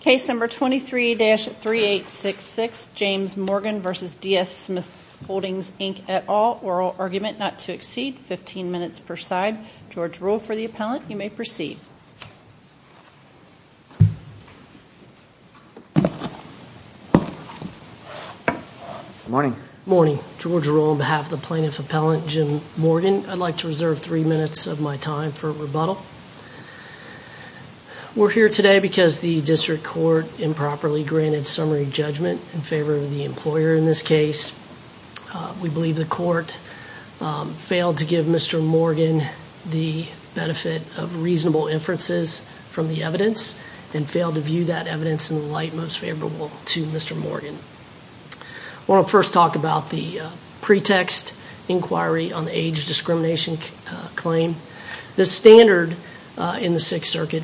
Case number 23-3866, James Morgan v. DS Smith Holdings Inc, et al. Oral argument not to exceed 15 minutes per side. George Rule for the appellant. You may proceed. Morning. Morning. George Rule on behalf of the plaintiff appellant Jim Morgan. I'd like to reserve three minutes of my time for rebuttal. We're here today because the district court improperly granted summary judgment in favor of the employer in this case. We believe the court failed to give Mr. Morgan the benefit of reasonable inferences from the evidence and failed to view that evidence in the light most favorable to Mr. Morgan. I want to first talk about the pretext inquiry on the age discrimination claim. The standard in the Sixth Circuit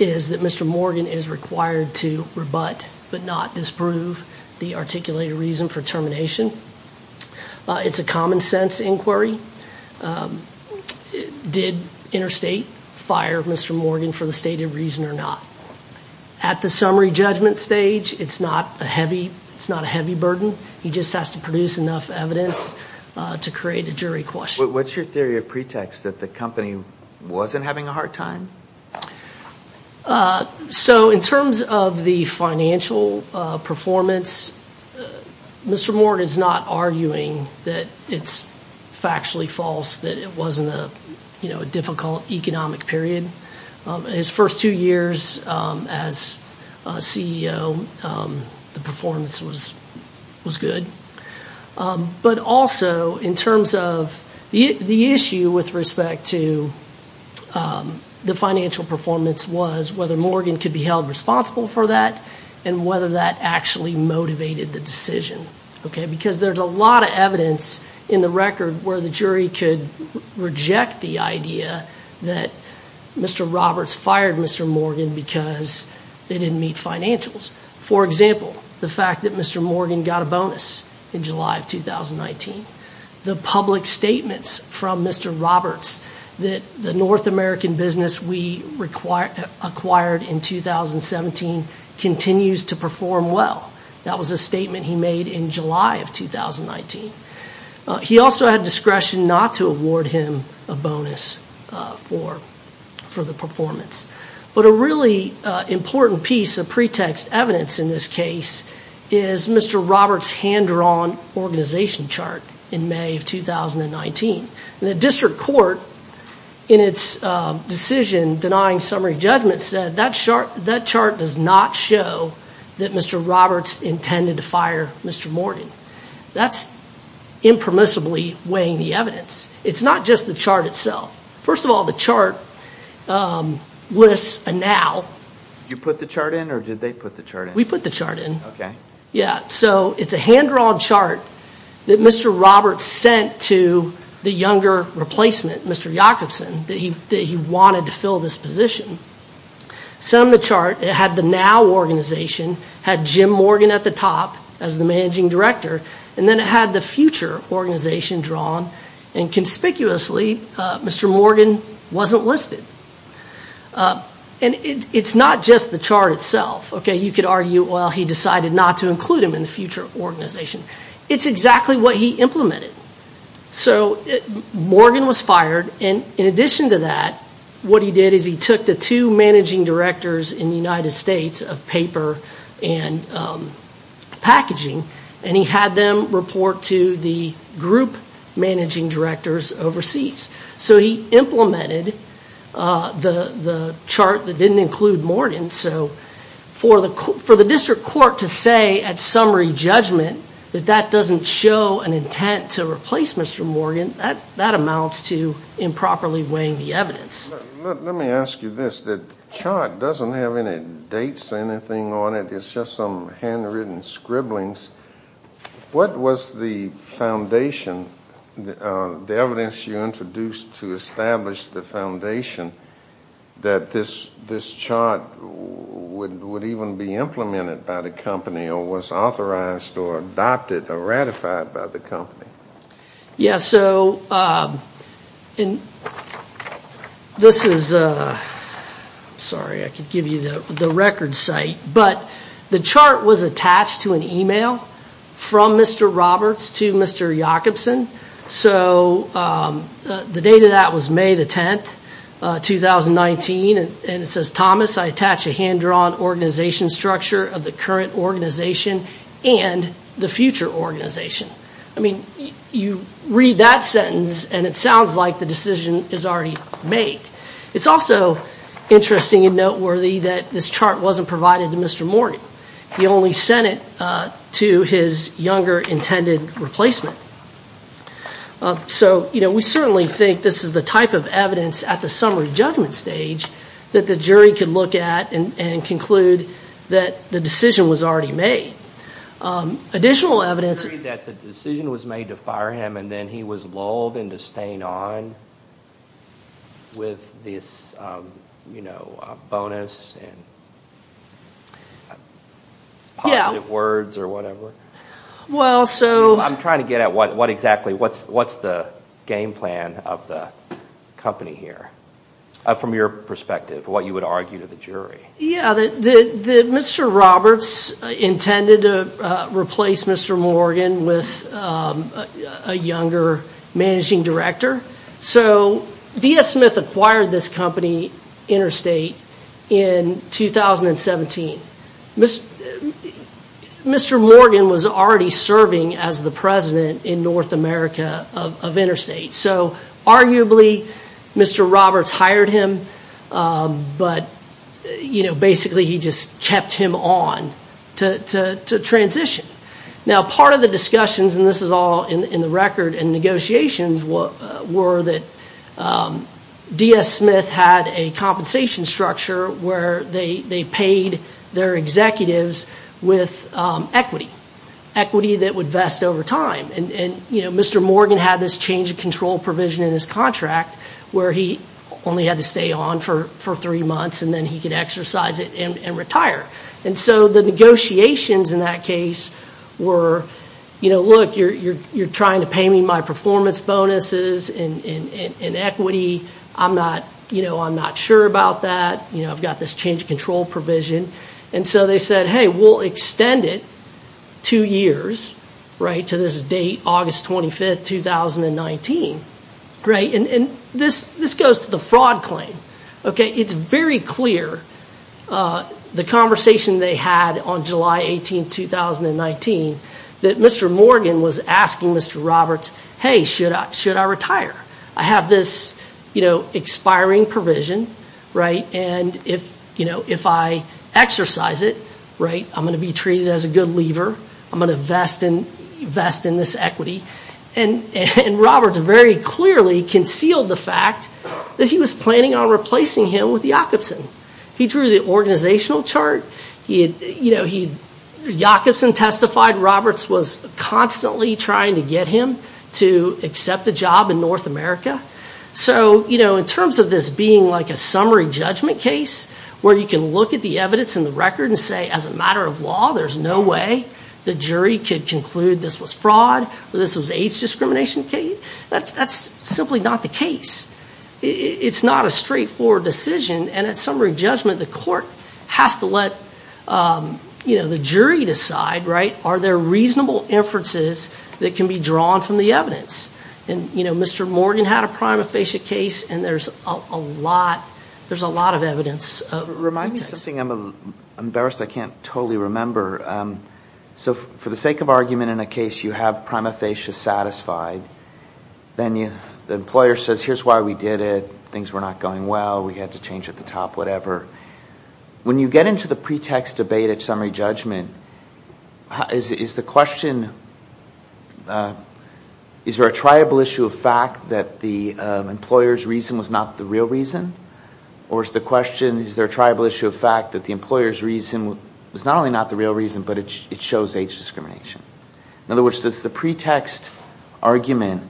is that Mr. Morgan is required to rebut but not disprove the articulated reason for termination. It's a common sense inquiry. Did Interstate fire Mr. Morgan for the stated reason or not? At the summary judgment stage, it's not a heavy burden. He just has to produce enough evidence to create a jury question. What's your theory of pretext that the company wasn't having a hard time? So in terms of the financial performance, Mr. Morgan is not arguing that it's factually false, that it wasn't a difficult economic period. His first two years as CEO, the performance was good. But also in terms of the issue with respect to the financial performance was whether Morgan could be held responsible for that and whether that actually motivated the decision. Because there's a lot of evidence in the record where the jury could reject the idea that Mr. Roberts fired Mr. Morgan because they didn't meet financials. For example, the fact that Mr. Morgan got a bonus in July of 2019. The public statements from Mr. Roberts that the North American business we acquired in 2017 continues to perform well. That was a statement he made in July of 2019. He also had discretion not to award him a bonus for the performance. But a really important piece of pretext evidence in this case is Mr. Roberts' hand-drawn organization chart in May of 2019. The district court in its decision denying summary judgment said that chart does not show that Mr. Roberts intended to fire Mr. Morgan. That's impermissibly weighing the evidence. It's not just the chart itself. First of all, the chart lists a now. Did you put the chart in or did they put the chart in? We put the chart in. Okay. It's a hand-drawn chart that Mr. Roberts sent to the younger replacement, Mr. Jacobson, that he wanted to fill this position. Some of the chart had the now organization, had Jim Morgan at the top as the managing director, and then it had the future organization drawn. Conspicuously, Mr. Morgan wasn't listed. It's not just the chart itself. You could argue, well, he decided not to include him in the future organization. It's exactly what he implemented. Morgan was fired. In addition to that, what he did is he took the two managing directors in the United States of paper and packaging, and he had them report to the group managing directors overseas. So he implemented the chart that didn't include Morgan. So for the district court to say at summary judgment that that doesn't show an intent to replace Mr. Morgan, that amounts to improperly weighing the evidence. Let me ask you this. The chart doesn't have any dates or anything on it. It's just some handwritten scribblings. What was the foundation, the evidence you introduced to establish the foundation that this chart would even be implemented by the company or was authorized or adopted or ratified by the company? Yeah, so this is, sorry, I could give you the record site. But the chart was attached to an email from Mr. Roberts to Mr. Jacobson. So the date of that was May the 10th, 2019. And it says, Thomas, I attach a hand-drawn organization structure of the current organization and the future organization. I mean, you read that sentence and it sounds like the decision is already made. It's also interesting and noteworthy that this chart wasn't provided to Mr. Morgan. He only sent it to his younger intended replacement. So, you know, we certainly think this is the type of evidence at the summary judgment stage that the jury could look at and conclude that the decision was already made. Additional evidence... You read that the decision was made to fire him and then he was lulled into staying on with this, you know, bonus and positive words or whatever. Well, so... I'm trying to get at what exactly, what's the game plan of the company here from your perspective, what you would argue to the jury. Yeah, Mr. Roberts intended to replace Mr. Morgan with a younger managing director. So D.S. Smith acquired this company, Interstate, in 2017. Mr. Morgan was already serving as the president in North America of Interstate. So arguably, Mr. Roberts hired him, but, you know, basically he just kept him on to transition. Now, part of the discussions, and this is all in the record and negotiations, were that D.S. Smith had a compensation structure where they paid their executives with equity. Equity that would vest over time. And, you know, Mr. Morgan had this change of control provision in his contract where he only had to stay on for three months and then he could exercise it and retire. And so the negotiations in that case were, you know, look, you're trying to pay me my performance bonuses in equity. I'm not, you know, I'm not sure about that. You know, I've got this change of control provision. And so they said, hey, we'll extend it two years to this date, August 25th, 2019. And this goes to the fraud claim. It's very clear, the conversation they had on July 18th, 2019, that Mr. Morgan was asking Mr. Roberts, hey, should I retire? I have this, you know, expiring provision. Right? And if, you know, if I exercise it, right, I'm going to be treated as a good lever. I'm going to vest in this equity. And Roberts very clearly concealed the fact that he was planning on replacing him with Jacobson. He drew the organizational chart. You know, Jacobson testified. Roberts was constantly trying to get him to accept a job in North America. So, you know, in terms of this being like a summary judgment case where you can look at the evidence in the record and say, as a matter of law, there's no way the jury could conclude this was fraud, this was age discrimination, that's simply not the case. It's not a straightforward decision. And at summary judgment, the court has to let, you know, the jury decide, right, are there reasonable inferences that can be drawn from the evidence? And, you know, Mr. Morgan had a prima facie case, and there's a lot of evidence. Remind me of something. I'm embarrassed I can't totally remember. So for the sake of argument in a case, you have prima facie satisfied. Then the employer says, here's why we did it. Things were not going well. We had to change at the top, whatever. When you get into the pretext debate at summary judgment, is the question, is there a triable issue of fact that the employer's reason was not the real reason? Or is the question, is there a triable issue of fact that the employer's reason was not only not the real reason, but it shows age discrimination? In other words, does the pretext argument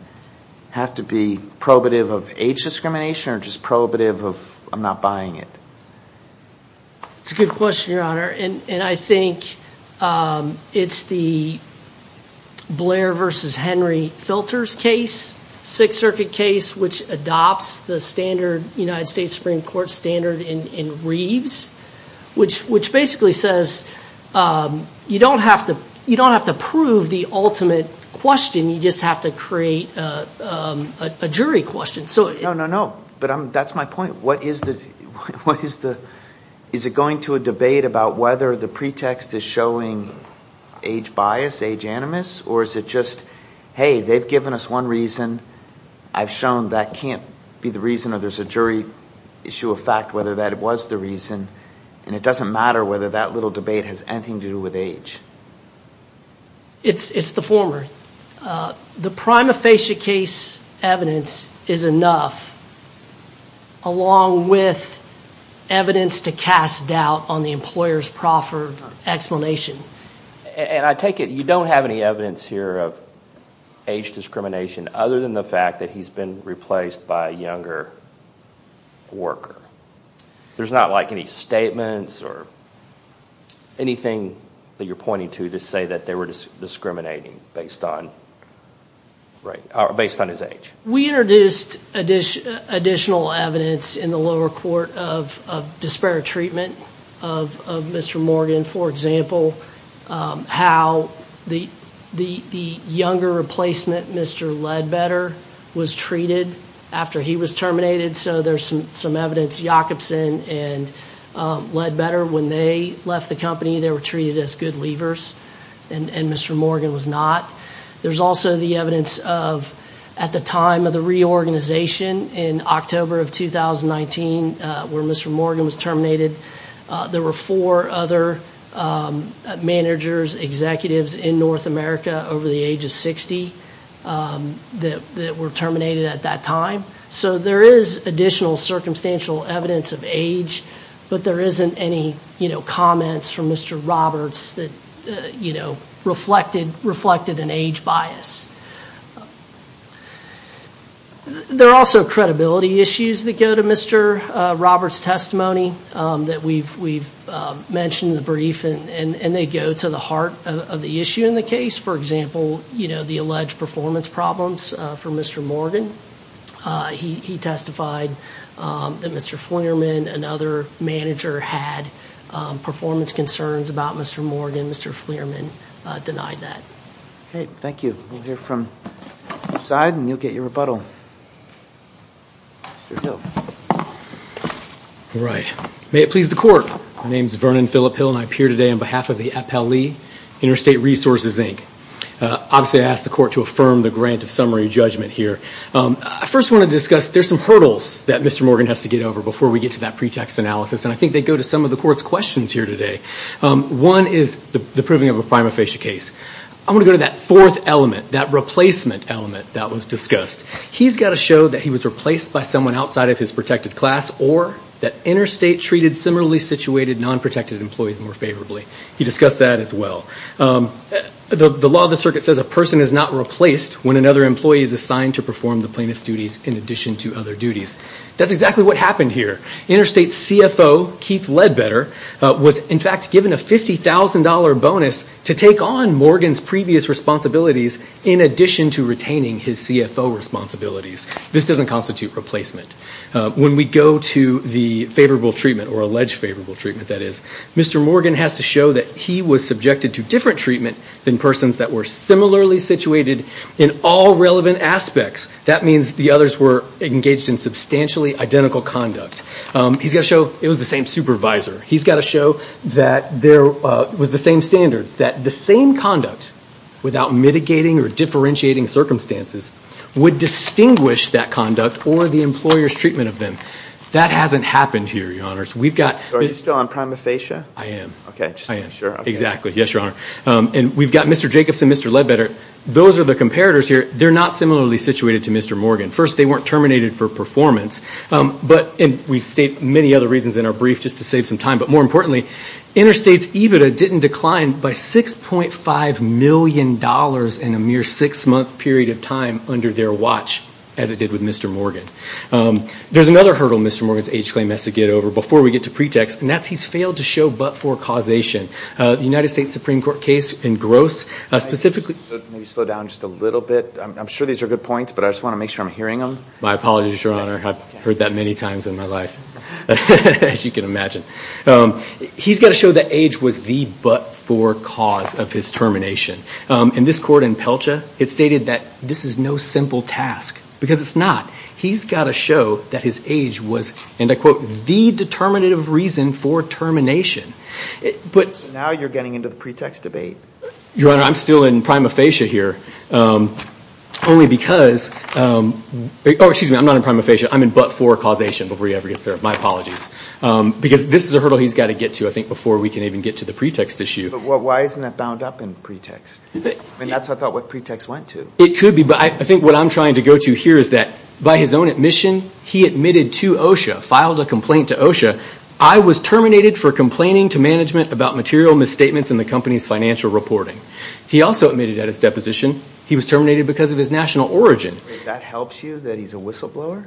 have to be prohibitive of age discrimination or just prohibitive of I'm not buying it? It's a good question, Your Honor. And I think it's the Blair versus Henry Filters case, Sixth Circuit case, which adopts the standard United States Supreme Court standard in Reeves, which basically says you don't have to prove the ultimate question. You just have to create a jury question. No, no, no. But that's my point. Is it going to a debate about whether the pretext is showing age bias, age animus? Or is it just, hey, they've given us one reason. I've shown that can't be the reason or there's a jury issue of fact whether that was the reason. And it doesn't matter whether that little debate has anything to do with age. It's the former. The prima facie case evidence is enough, along with evidence to cast doubt on the employer's proffer explanation. And I take it you don't have any evidence here of age discrimination other than the fact that he's been replaced by a younger worker. There's not like any statements or anything that you're pointing to to say that they were discriminating based on his age. We introduced additional evidence in the lower court of disparate treatment of Mr. Morgan. For example, how the younger replacement, Mr. Ledbetter, was treated after he was terminated. So there's some evidence, Jacobson and Ledbetter, when they left the company, they were treated as good leavers and Mr. Morgan was not. There's also the evidence of at the time of the reorganization in October of 2019, where Mr. Morgan was terminated, there were four other managers, executives in North America over the age of 60 that were terminated at that time. So there is additional circumstantial evidence of age, but there isn't any comments from Mr. Roberts that reflected an age bias. There are also credibility issues that go to Mr. Roberts' testimony that we've mentioned in the brief and they go to the heart of the issue in the case. For example, the alleged performance problems for Mr. Morgan. He testified that Mr. Flierman, another manager, had performance concerns about Mr. Morgan. Mr. Flierman denied that. Okay, thank you. We'll hear from your side and you'll get your rebuttal. Mr. Hill. All right. May it please the Court. My name is Vernon Phillip Hill and I appear today on behalf of the Appellee Interstate Resources, Inc. Obviously, I ask the Court to affirm the grant of summary judgment here. I first want to discuss there's some hurdles that Mr. Morgan has to get over before we get to that pretext analysis, and I think they go to some of the Court's questions here today. One is the proving of a prima facie case. I want to go to that fourth element, that replacement element that was discussed. He's got to show that he was replaced by someone outside of his protected class or that Interstate treated similarly situated non-protected employees more favorably. He discussed that as well. The law of the circuit says a person is not replaced when another employee is assigned to perform the plaintiff's duties in addition to other duties. That's exactly what happened here. Interstate's CFO, Keith Ledbetter, was in fact given a $50,000 bonus to take on Morgan's previous responsibilities in addition to retaining his CFO responsibilities. This doesn't constitute replacement. When we go to the favorable treatment, or alleged favorable treatment, that is, Mr. Morgan has to show that he was subjected to different treatment than persons that were similarly situated in all relevant aspects. That means the others were engaged in substantially identical conduct. He's got to show it was the same supervisor. He's got to show that it was the same standards, that the same conduct, without mitigating or differentiating circumstances, would distinguish that conduct or the employer's treatment of them. That hasn't happened here, Your Honors. Are you still on prima facie? I am. Okay, just to be sure. Exactly. Yes, Your Honor. We've got Mr. Jacobs and Mr. Ledbetter. Those are the comparators here. They're not similarly situated to Mr. Morgan. First, they weren't terminated for performance. We state many other reasons in our brief, just to save some time. But more importantly, Interstate's EBITDA didn't decline by $6.5 million in a mere six-month period of time under their watch, as it did with Mr. Morgan. There's another hurdle Mr. Morgan's age claim has to get over before we get to pretext, and that's he's failed to show but-for causation. The United States Supreme Court case in Gross, specifically— Maybe slow down just a little bit. I'm sure these are good points, but I just want to make sure I'm hearing them. My apologies, Your Honor. I've heard that many times in my life, as you can imagine. He's got to show that age was the but-for cause of his termination. In this court in Pelcha, it's stated that this is no simple task, because it's not. He's got to show that his age was, and I quote, the determinative reason for termination. So now you're getting into the pretext debate? Your Honor, I'm still in prima facie here, only because— Oh, excuse me, I'm not in prima facie. I'm in but-for causation before he ever gets there. My apologies, because this is a hurdle he's got to get to, I think, before we can even get to the pretext issue. But why isn't that bound up in pretext? I mean, that's, I thought, what pretext went to. It could be, but I think what I'm trying to go to here is that by his own admission, he admitted to OSHA, filed a complaint to OSHA, I was terminated for complaining to management about material misstatements in the company's financial reporting. He also admitted at his deposition he was terminated because of his national origin. That helps you, that he's a whistleblower?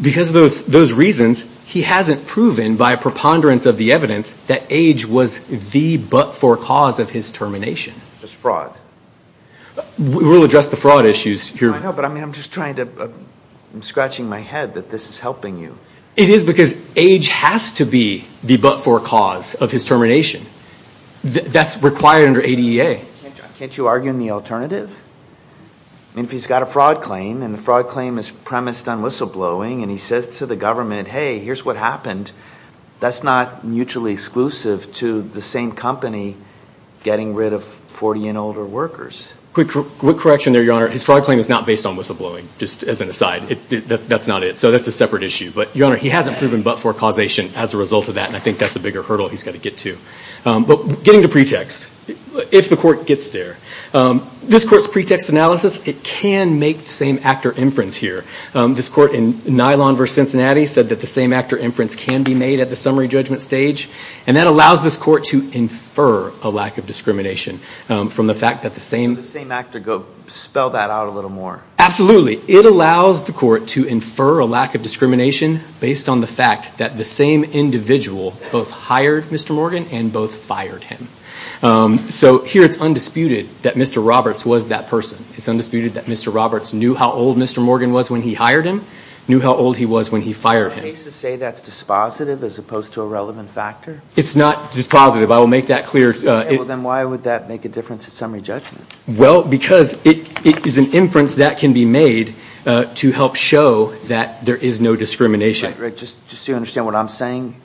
Because of those reasons, he hasn't proven by a preponderance of the evidence that age was the but-for cause of his termination. That's fraud. We'll address the fraud issues here. I know, but I'm just trying to, I'm scratching my head that this is helping you. It is because age has to be the but-for cause of his termination. That's required under ADEA. Can't you argue in the alternative? I mean, if he's got a fraud claim and the fraud claim is premised on whistleblowing and he says to the government, hey, here's what happened, that's not mutually exclusive to the same company getting rid of 40 and older workers. Quick correction there, Your Honor. His fraud claim is not based on whistleblowing, just as an aside. That's not it. So that's a separate issue. But, Your Honor, he hasn't proven but-for causation as a result of that, and I think that's a bigger hurdle he's got to get to. But getting to pretext, if the court gets there, this court's pretext analysis, it can make the same actor inference here. This court in Nylon v. Cincinnati said that the same actor inference can be made at the summary judgment stage, and that allows this court to infer a lack of discrimination from the fact that the same… Can the same actor spell that out a little more? Absolutely. It allows the court to infer a lack of discrimination based on the fact that the same individual both hired Mr. Morgan and both fired him. So here it's undisputed that Mr. Roberts was that person. It's undisputed that Mr. Roberts knew how old Mr. Morgan was when he hired him, knew how old he was when he fired him. Are cases say that's dispositive as opposed to a relevant factor? It's not dispositive. I will make that clear. Okay, well then why would that make a difference at summary judgment? Well, because it is an inference that can be made to help show that there is no discrimination. Just so you understand what I'm saying.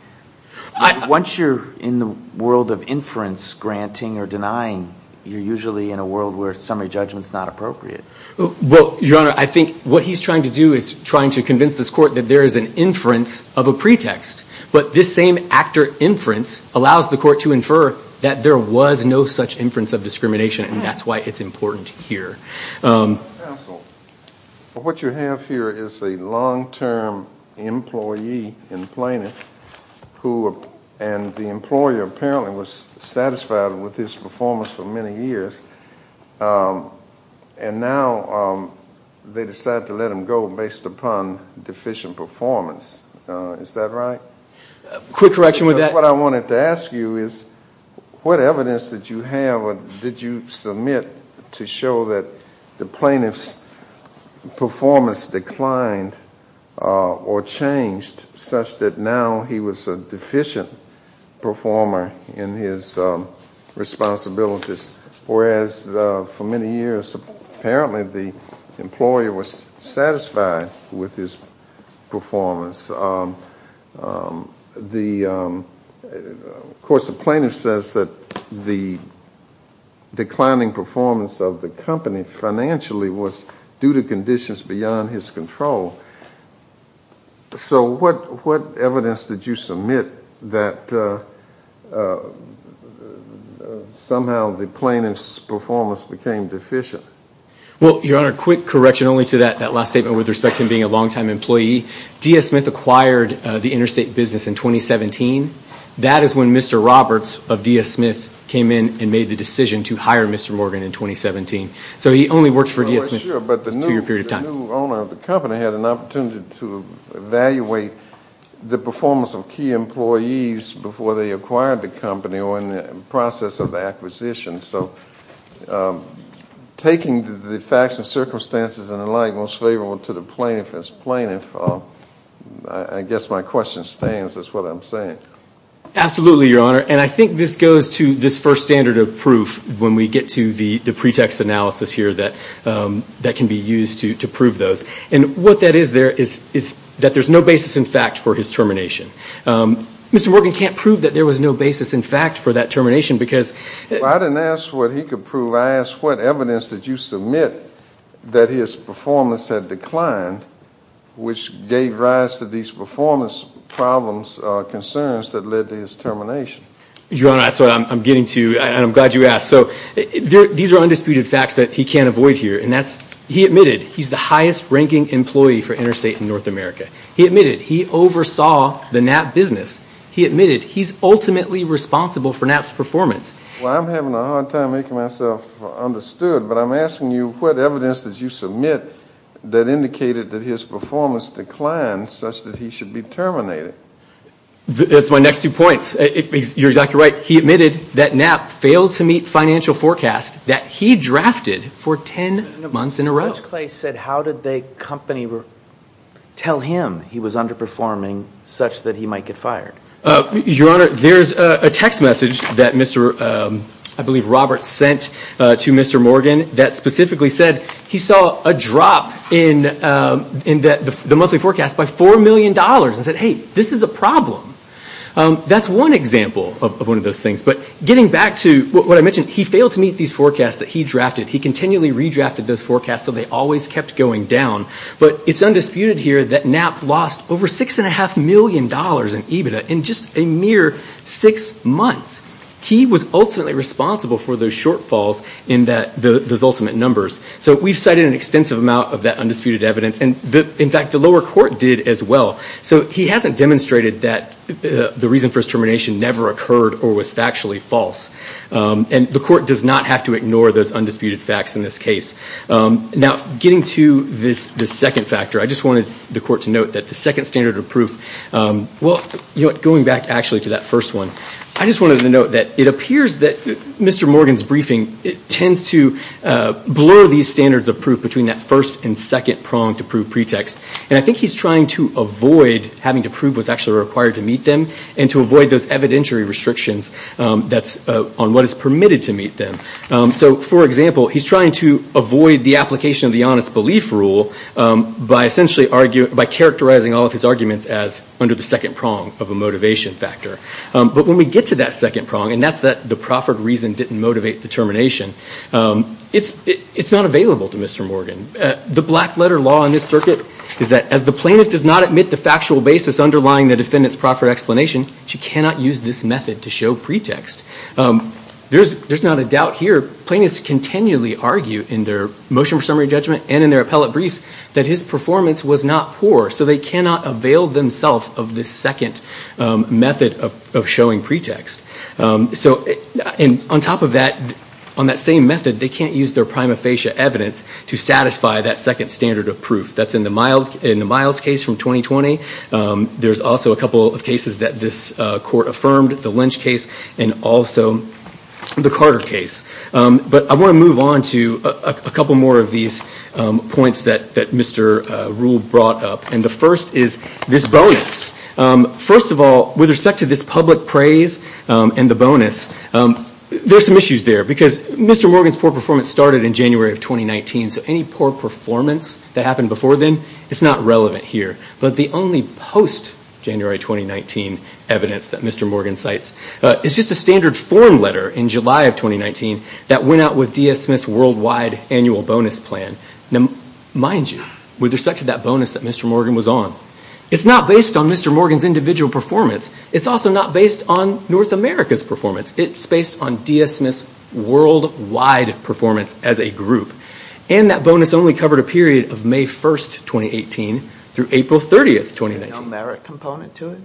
Once you're in the world of inference granting or denying, you're usually in a world where summary judgment's not appropriate. Well, Your Honor, I think what he's trying to do is trying to convince this court that there is an inference of a pretext, but this same actor inference allows the court to infer that there was no such inference of discrimination, and that's why it's important here. Counsel, what you have here is a long-term employee in Plano and the employer apparently was satisfied with his performance for many years, and now they decide to let him go based upon deficient performance. Is that right? Quick correction with that. What I wanted to ask you is what evidence did you have or did you submit to show that the plaintiff's performance declined or changed such that now he was a deficient performer in his responsibilities, whereas for many years apparently the employer was satisfied with his performance. Of course, the plaintiff says that the declining performance of the company financially was due to conditions beyond his control. So what evidence did you submit that somehow the plaintiff's performance became deficient? Well, Your Honor, quick correction only to that last statement with respect to him being a long-time employee. D.S. Smith acquired the interstate business in 2017. That is when Mr. Roberts of D.S. Smith came in and made the decision to hire Mr. Morgan in 2017. So he only worked for D.S. Smith for a period of time. But the new owner of the company had an opportunity to evaluate the performance of key employees before they acquired the company or in the process of the acquisition. So taking the facts and circumstances and the like most favorable to the plaintiff as plaintiff, I guess my question stands is what I'm saying. Absolutely, Your Honor, and I think this goes to this first standard of proof when we get to the pretext analysis here that can be used to prove those. And what that is there is that there's no basis in fact for his termination. Mr. Morgan can't prove that there was no basis in fact for that termination because I didn't ask what he could prove. I asked what evidence did you submit that his performance had declined, which gave rise to these performance problems or concerns that led to his termination. Your Honor, that's what I'm getting to, and I'm glad you asked. So these are undisputed facts that he can't avoid here. And that's he admitted he's the highest-ranking employee for interstate in North America. He admitted he oversaw the NAP business. He admitted he's ultimately responsible for NAP's performance. Well, I'm having a hard time making myself understood, but I'm asking you what evidence did you submit that indicated that his performance declined such that he should be terminated. That's my next two points. You're exactly right. He admitted that NAP failed to meet financial forecasts that he drafted for ten months in a row. Judge Clay said how did they company tell him he was underperforming such that he might get fired? Your Honor, there's a text message that Mr. I believe Robert sent to Mr. Morgan that specifically said he saw a drop in the monthly forecast by $4 million and said, hey, this is a problem. That's one example of one of those things. But getting back to what I mentioned, he failed to meet these forecasts that he drafted. He continually redrafted those forecasts so they always kept going down. But it's undisputed here that NAP lost over $6.5 million in EBITDA in just a mere six months. He was ultimately responsible for those shortfalls in those ultimate numbers. So we've cited an extensive amount of that undisputed evidence. In fact, the lower court did as well. So he hasn't demonstrated that the reason for his termination never occurred or was factually false. And the court does not have to ignore those undisputed facts in this case. Now, getting to this second factor, I just wanted the court to note that the second standard of proof, well, going back actually to that first one, I just wanted to note that it appears that Mr. Morgan's briefing tends to blur these standards of proof between that first and second prong to prove pretext. And I think he's trying to avoid having to prove what's actually required to meet them and to avoid those evidentiary restrictions that's on what is permitted to meet them. So, for example, he's trying to avoid the application of the honest belief rule by essentially arguing, by characterizing all of his arguments as under the second prong of a motivation factor. But when we get to that second prong, and that's that the proffered reason didn't motivate the termination, it's not available to Mr. Morgan. The black letter law in this circuit is that as the plaintiff does not admit the factual basis underlying the defendant's proffered explanation, she cannot use this method to show pretext. There's not a doubt here. Plaintiffs continually argue in their motion for summary judgment and in their appellate briefs that his performance was not poor, so they cannot avail themselves of this second method of showing pretext. So on top of that, on that same method, they can't use their prima facie evidence to satisfy that second standard of proof. That's in the Miles case from 2020. There's also a couple of cases that this court affirmed, the Lynch case and also the Carter case. But I want to move on to a couple more of these points that Mr. Rule brought up. And the first is this bonus. First of all, with respect to this public praise and the bonus, there's some issues there. Because Mr. Morgan's poor performance started in January of 2019, so any poor performance that happened before then, it's not relevant here. But the only post-January 2019 evidence that Mr. Morgan cites is just a standard form letter in July of 2019 that went out with D.S. Smith's worldwide annual bonus plan. Now, mind you, with respect to that bonus that Mr. Morgan was on, it's not based on Mr. Morgan's individual performance. It's also not based on North America's performance. It's based on D.S. Smith's worldwide performance as a group. And that bonus only covered a period of May 1st, 2018 through April 30th, 2019. There's no merit component to it?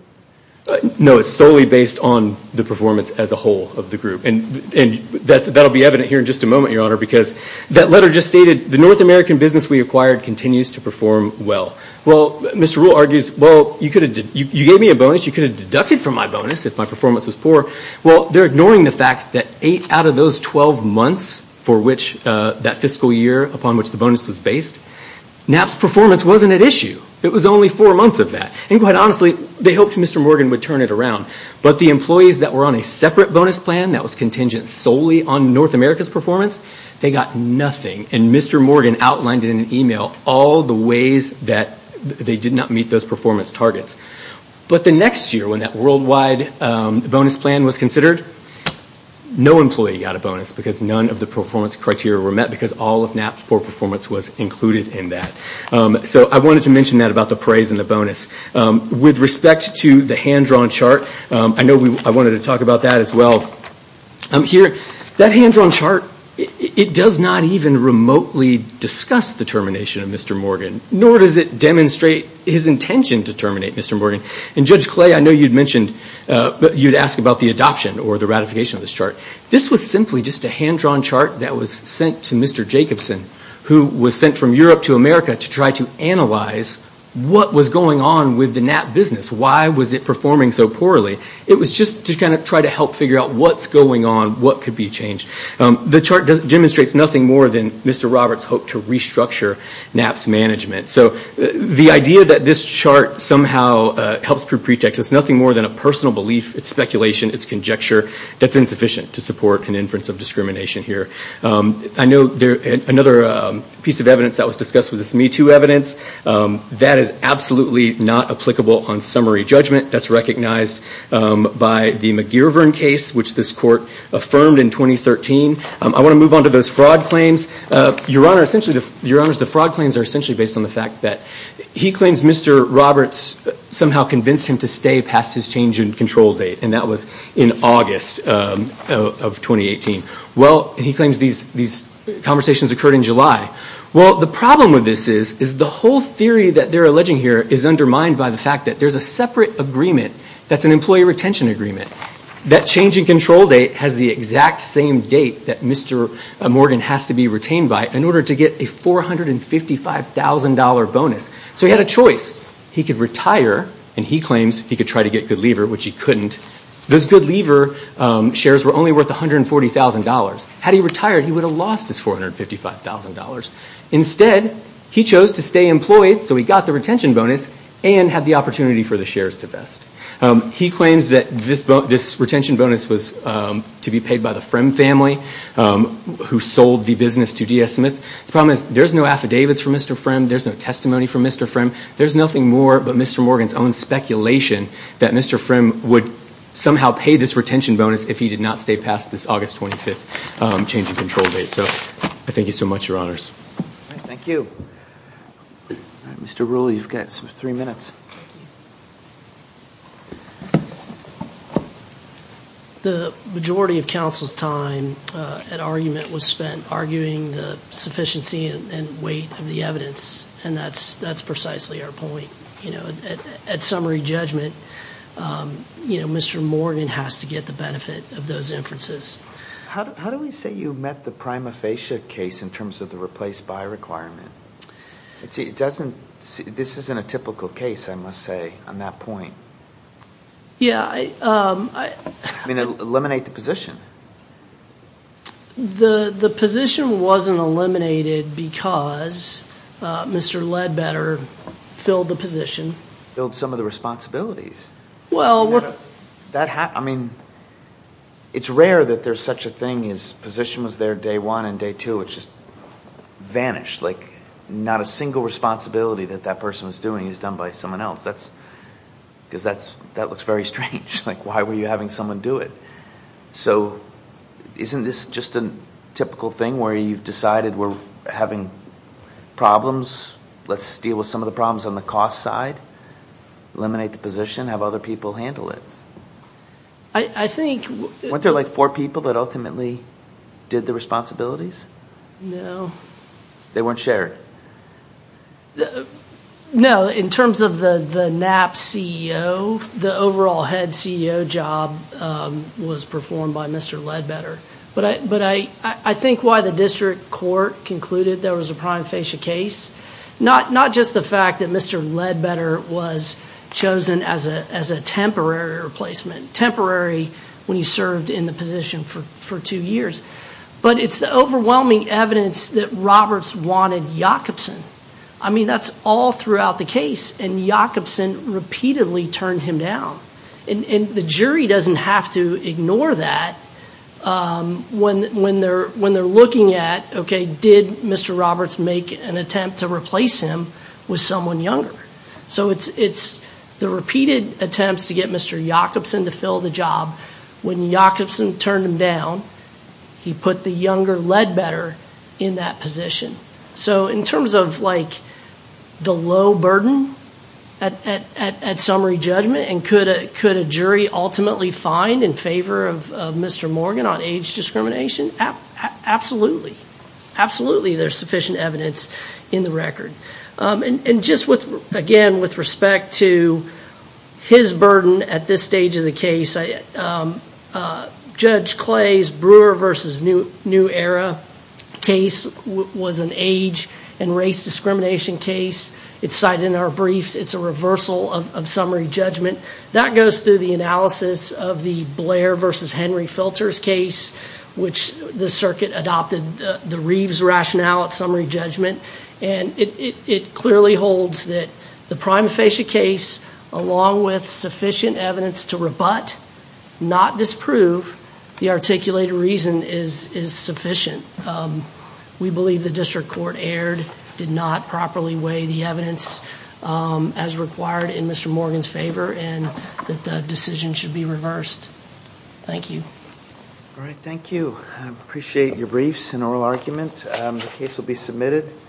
No, it's solely based on the performance as a whole of the group. And that'll be evident here in just a moment, Your Honor, because that letter just stated, the North American business we acquired continues to perform well. Well, Mr. Rule argues, well, you gave me a bonus. You could have deducted from my bonus if my performance was poor. Well, they're ignoring the fact that eight out of those 12 months for which that fiscal year upon which the bonus was based, Knapp's performance wasn't at issue. It was only four months of that. And quite honestly, they hoped Mr. Morgan would turn it around. But the employees that were on a separate bonus plan that was contingent solely on North America's performance, they got nothing. And Mr. Morgan outlined in an email all the ways that they did not meet those performance targets. But the next year when that worldwide bonus plan was considered, no employee got a bonus because none of the performance criteria were met because all of Knapp's poor performance was included in that. So I wanted to mention that about the praise and the bonus. With respect to the hand-drawn chart, I know I wanted to talk about that as well here. That hand-drawn chart, it does not even remotely discuss the termination of Mr. Morgan, nor does it demonstrate his intention to terminate Mr. Morgan. And Judge Clay, I know you'd mentioned, you'd asked about the adoption or the ratification of this chart. This was simply just a hand-drawn chart that was sent to Mr. Jacobson, who was sent from Europe to America to try to analyze what was going on with the Knapp business. Why was it performing so poorly? It was just to kind of try to help figure out what's going on, what could be changed. The chart demonstrates nothing more than Mr. Roberts' hope to restructure Knapp's management. So the idea that this chart somehow helps prove pretext is nothing more than a personal belief, it's speculation, it's conjecture, that's insufficient to support an inference of discrimination here. I know another piece of evidence that was discussed was this Me Too evidence. That is absolutely not applicable on summary judgment. That's recognized by the McGeer-Vern case, which this court affirmed in 2013. I want to move on to those fraud claims. Your Honor, essentially, the fraud claims are essentially based on the fact that he claims Mr. Roberts somehow convinced him to stay past his change in control date, and that was in August of 2018. Well, he claims these conversations occurred in July. Well, the problem with this is, is the whole theory that they're alleging here is undermined by the fact that there's a separate agreement that's an employee retention agreement. That change in control date has the exact same date that Mr. Morgan has to be retained by in order to get a $455,000 bonus. So he had a choice. He could retire, and he claims he could try to get Good Lever, which he couldn't. Those Good Lever shares were only worth $140,000. Had he retired, he would have lost his $455,000. Instead, he chose to stay employed so he got the retention bonus and had the opportunity for the shares to vest. He claims that this retention bonus was to be paid by the Frimm family who sold the business to D.S. Smith. The problem is there's no affidavits from Mr. Frimm. There's no testimony from Mr. Frimm. There's nothing more but Mr. Morgan's own speculation that Mr. Frimm would somehow pay this retention bonus if he did not stay past this August 25th change in control date. So I thank you so much, Your Honors. Thank you. Mr. Rule, you've got three minutes. The majority of counsel's time at argument was spent arguing the sufficiency and weight of the evidence, and that's precisely our point. At summary judgment, Mr. Morgan has to get the benefit of those inferences. How do we say you met the prima facie case in terms of the replace-by requirement? This isn't a typical case, I must say, on that point. Yeah. Eliminate the position. The position wasn't eliminated because Mr. Ledbetter filled the position. Filled some of the responsibilities. Well, we're— I mean, it's rare that there's such a thing as position was there day one and day two, it just vanished. Like, not a single responsibility that that person was doing is done by someone else. That's—because that looks very strange. Like, why were you having someone do it? So isn't this just a typical thing where you've decided we're having problems, let's deal with some of the problems on the cost side, eliminate the position, have other people handle it? I think— Weren't there, like, four people that ultimately did the responsibilities? No. They weren't shared? No, in terms of the NAP CEO, the overall head CEO job was performed by Mr. Ledbetter. But I think why the district court concluded there was a prime facie case, not just the fact that Mr. Ledbetter was chosen as a temporary replacement, temporary when he served in the position for two years, but it's the overwhelming evidence that Roberts wanted Jakobson. I mean, that's all throughout the case, and Jakobson repeatedly turned him down. And the jury doesn't have to ignore that when they're looking at, okay, did Mr. Roberts make an attempt to replace him with someone younger? So it's the repeated attempts to get Mr. Jakobson to fill the job, when Jakobson turned him down, he put the younger Ledbetter in that position. So in terms of, like, the low burden at summary judgment, and could a jury ultimately find in favor of Mr. Morgan on age discrimination? Absolutely. Absolutely there's sufficient evidence in the record. And just, again, with respect to his burden at this stage of the case, Judge Clay's Brewer v. New Era case was an age and race discrimination case. It's cited in our briefs. It's a reversal of summary judgment. That goes through the analysis of the Blair v. Henry Filters case, which the circuit adopted the Reeves rationale at summary judgment. And it clearly holds that the prime facie case, along with sufficient evidence to rebut, not disprove, the articulated reason is sufficient. We believe the district court erred, did not properly weigh the evidence as required in Mr. Morgan's favor, and that the decision should be reversed. Thank you. All right, thank you. I appreciate your briefs and oral argument. The case will be submitted.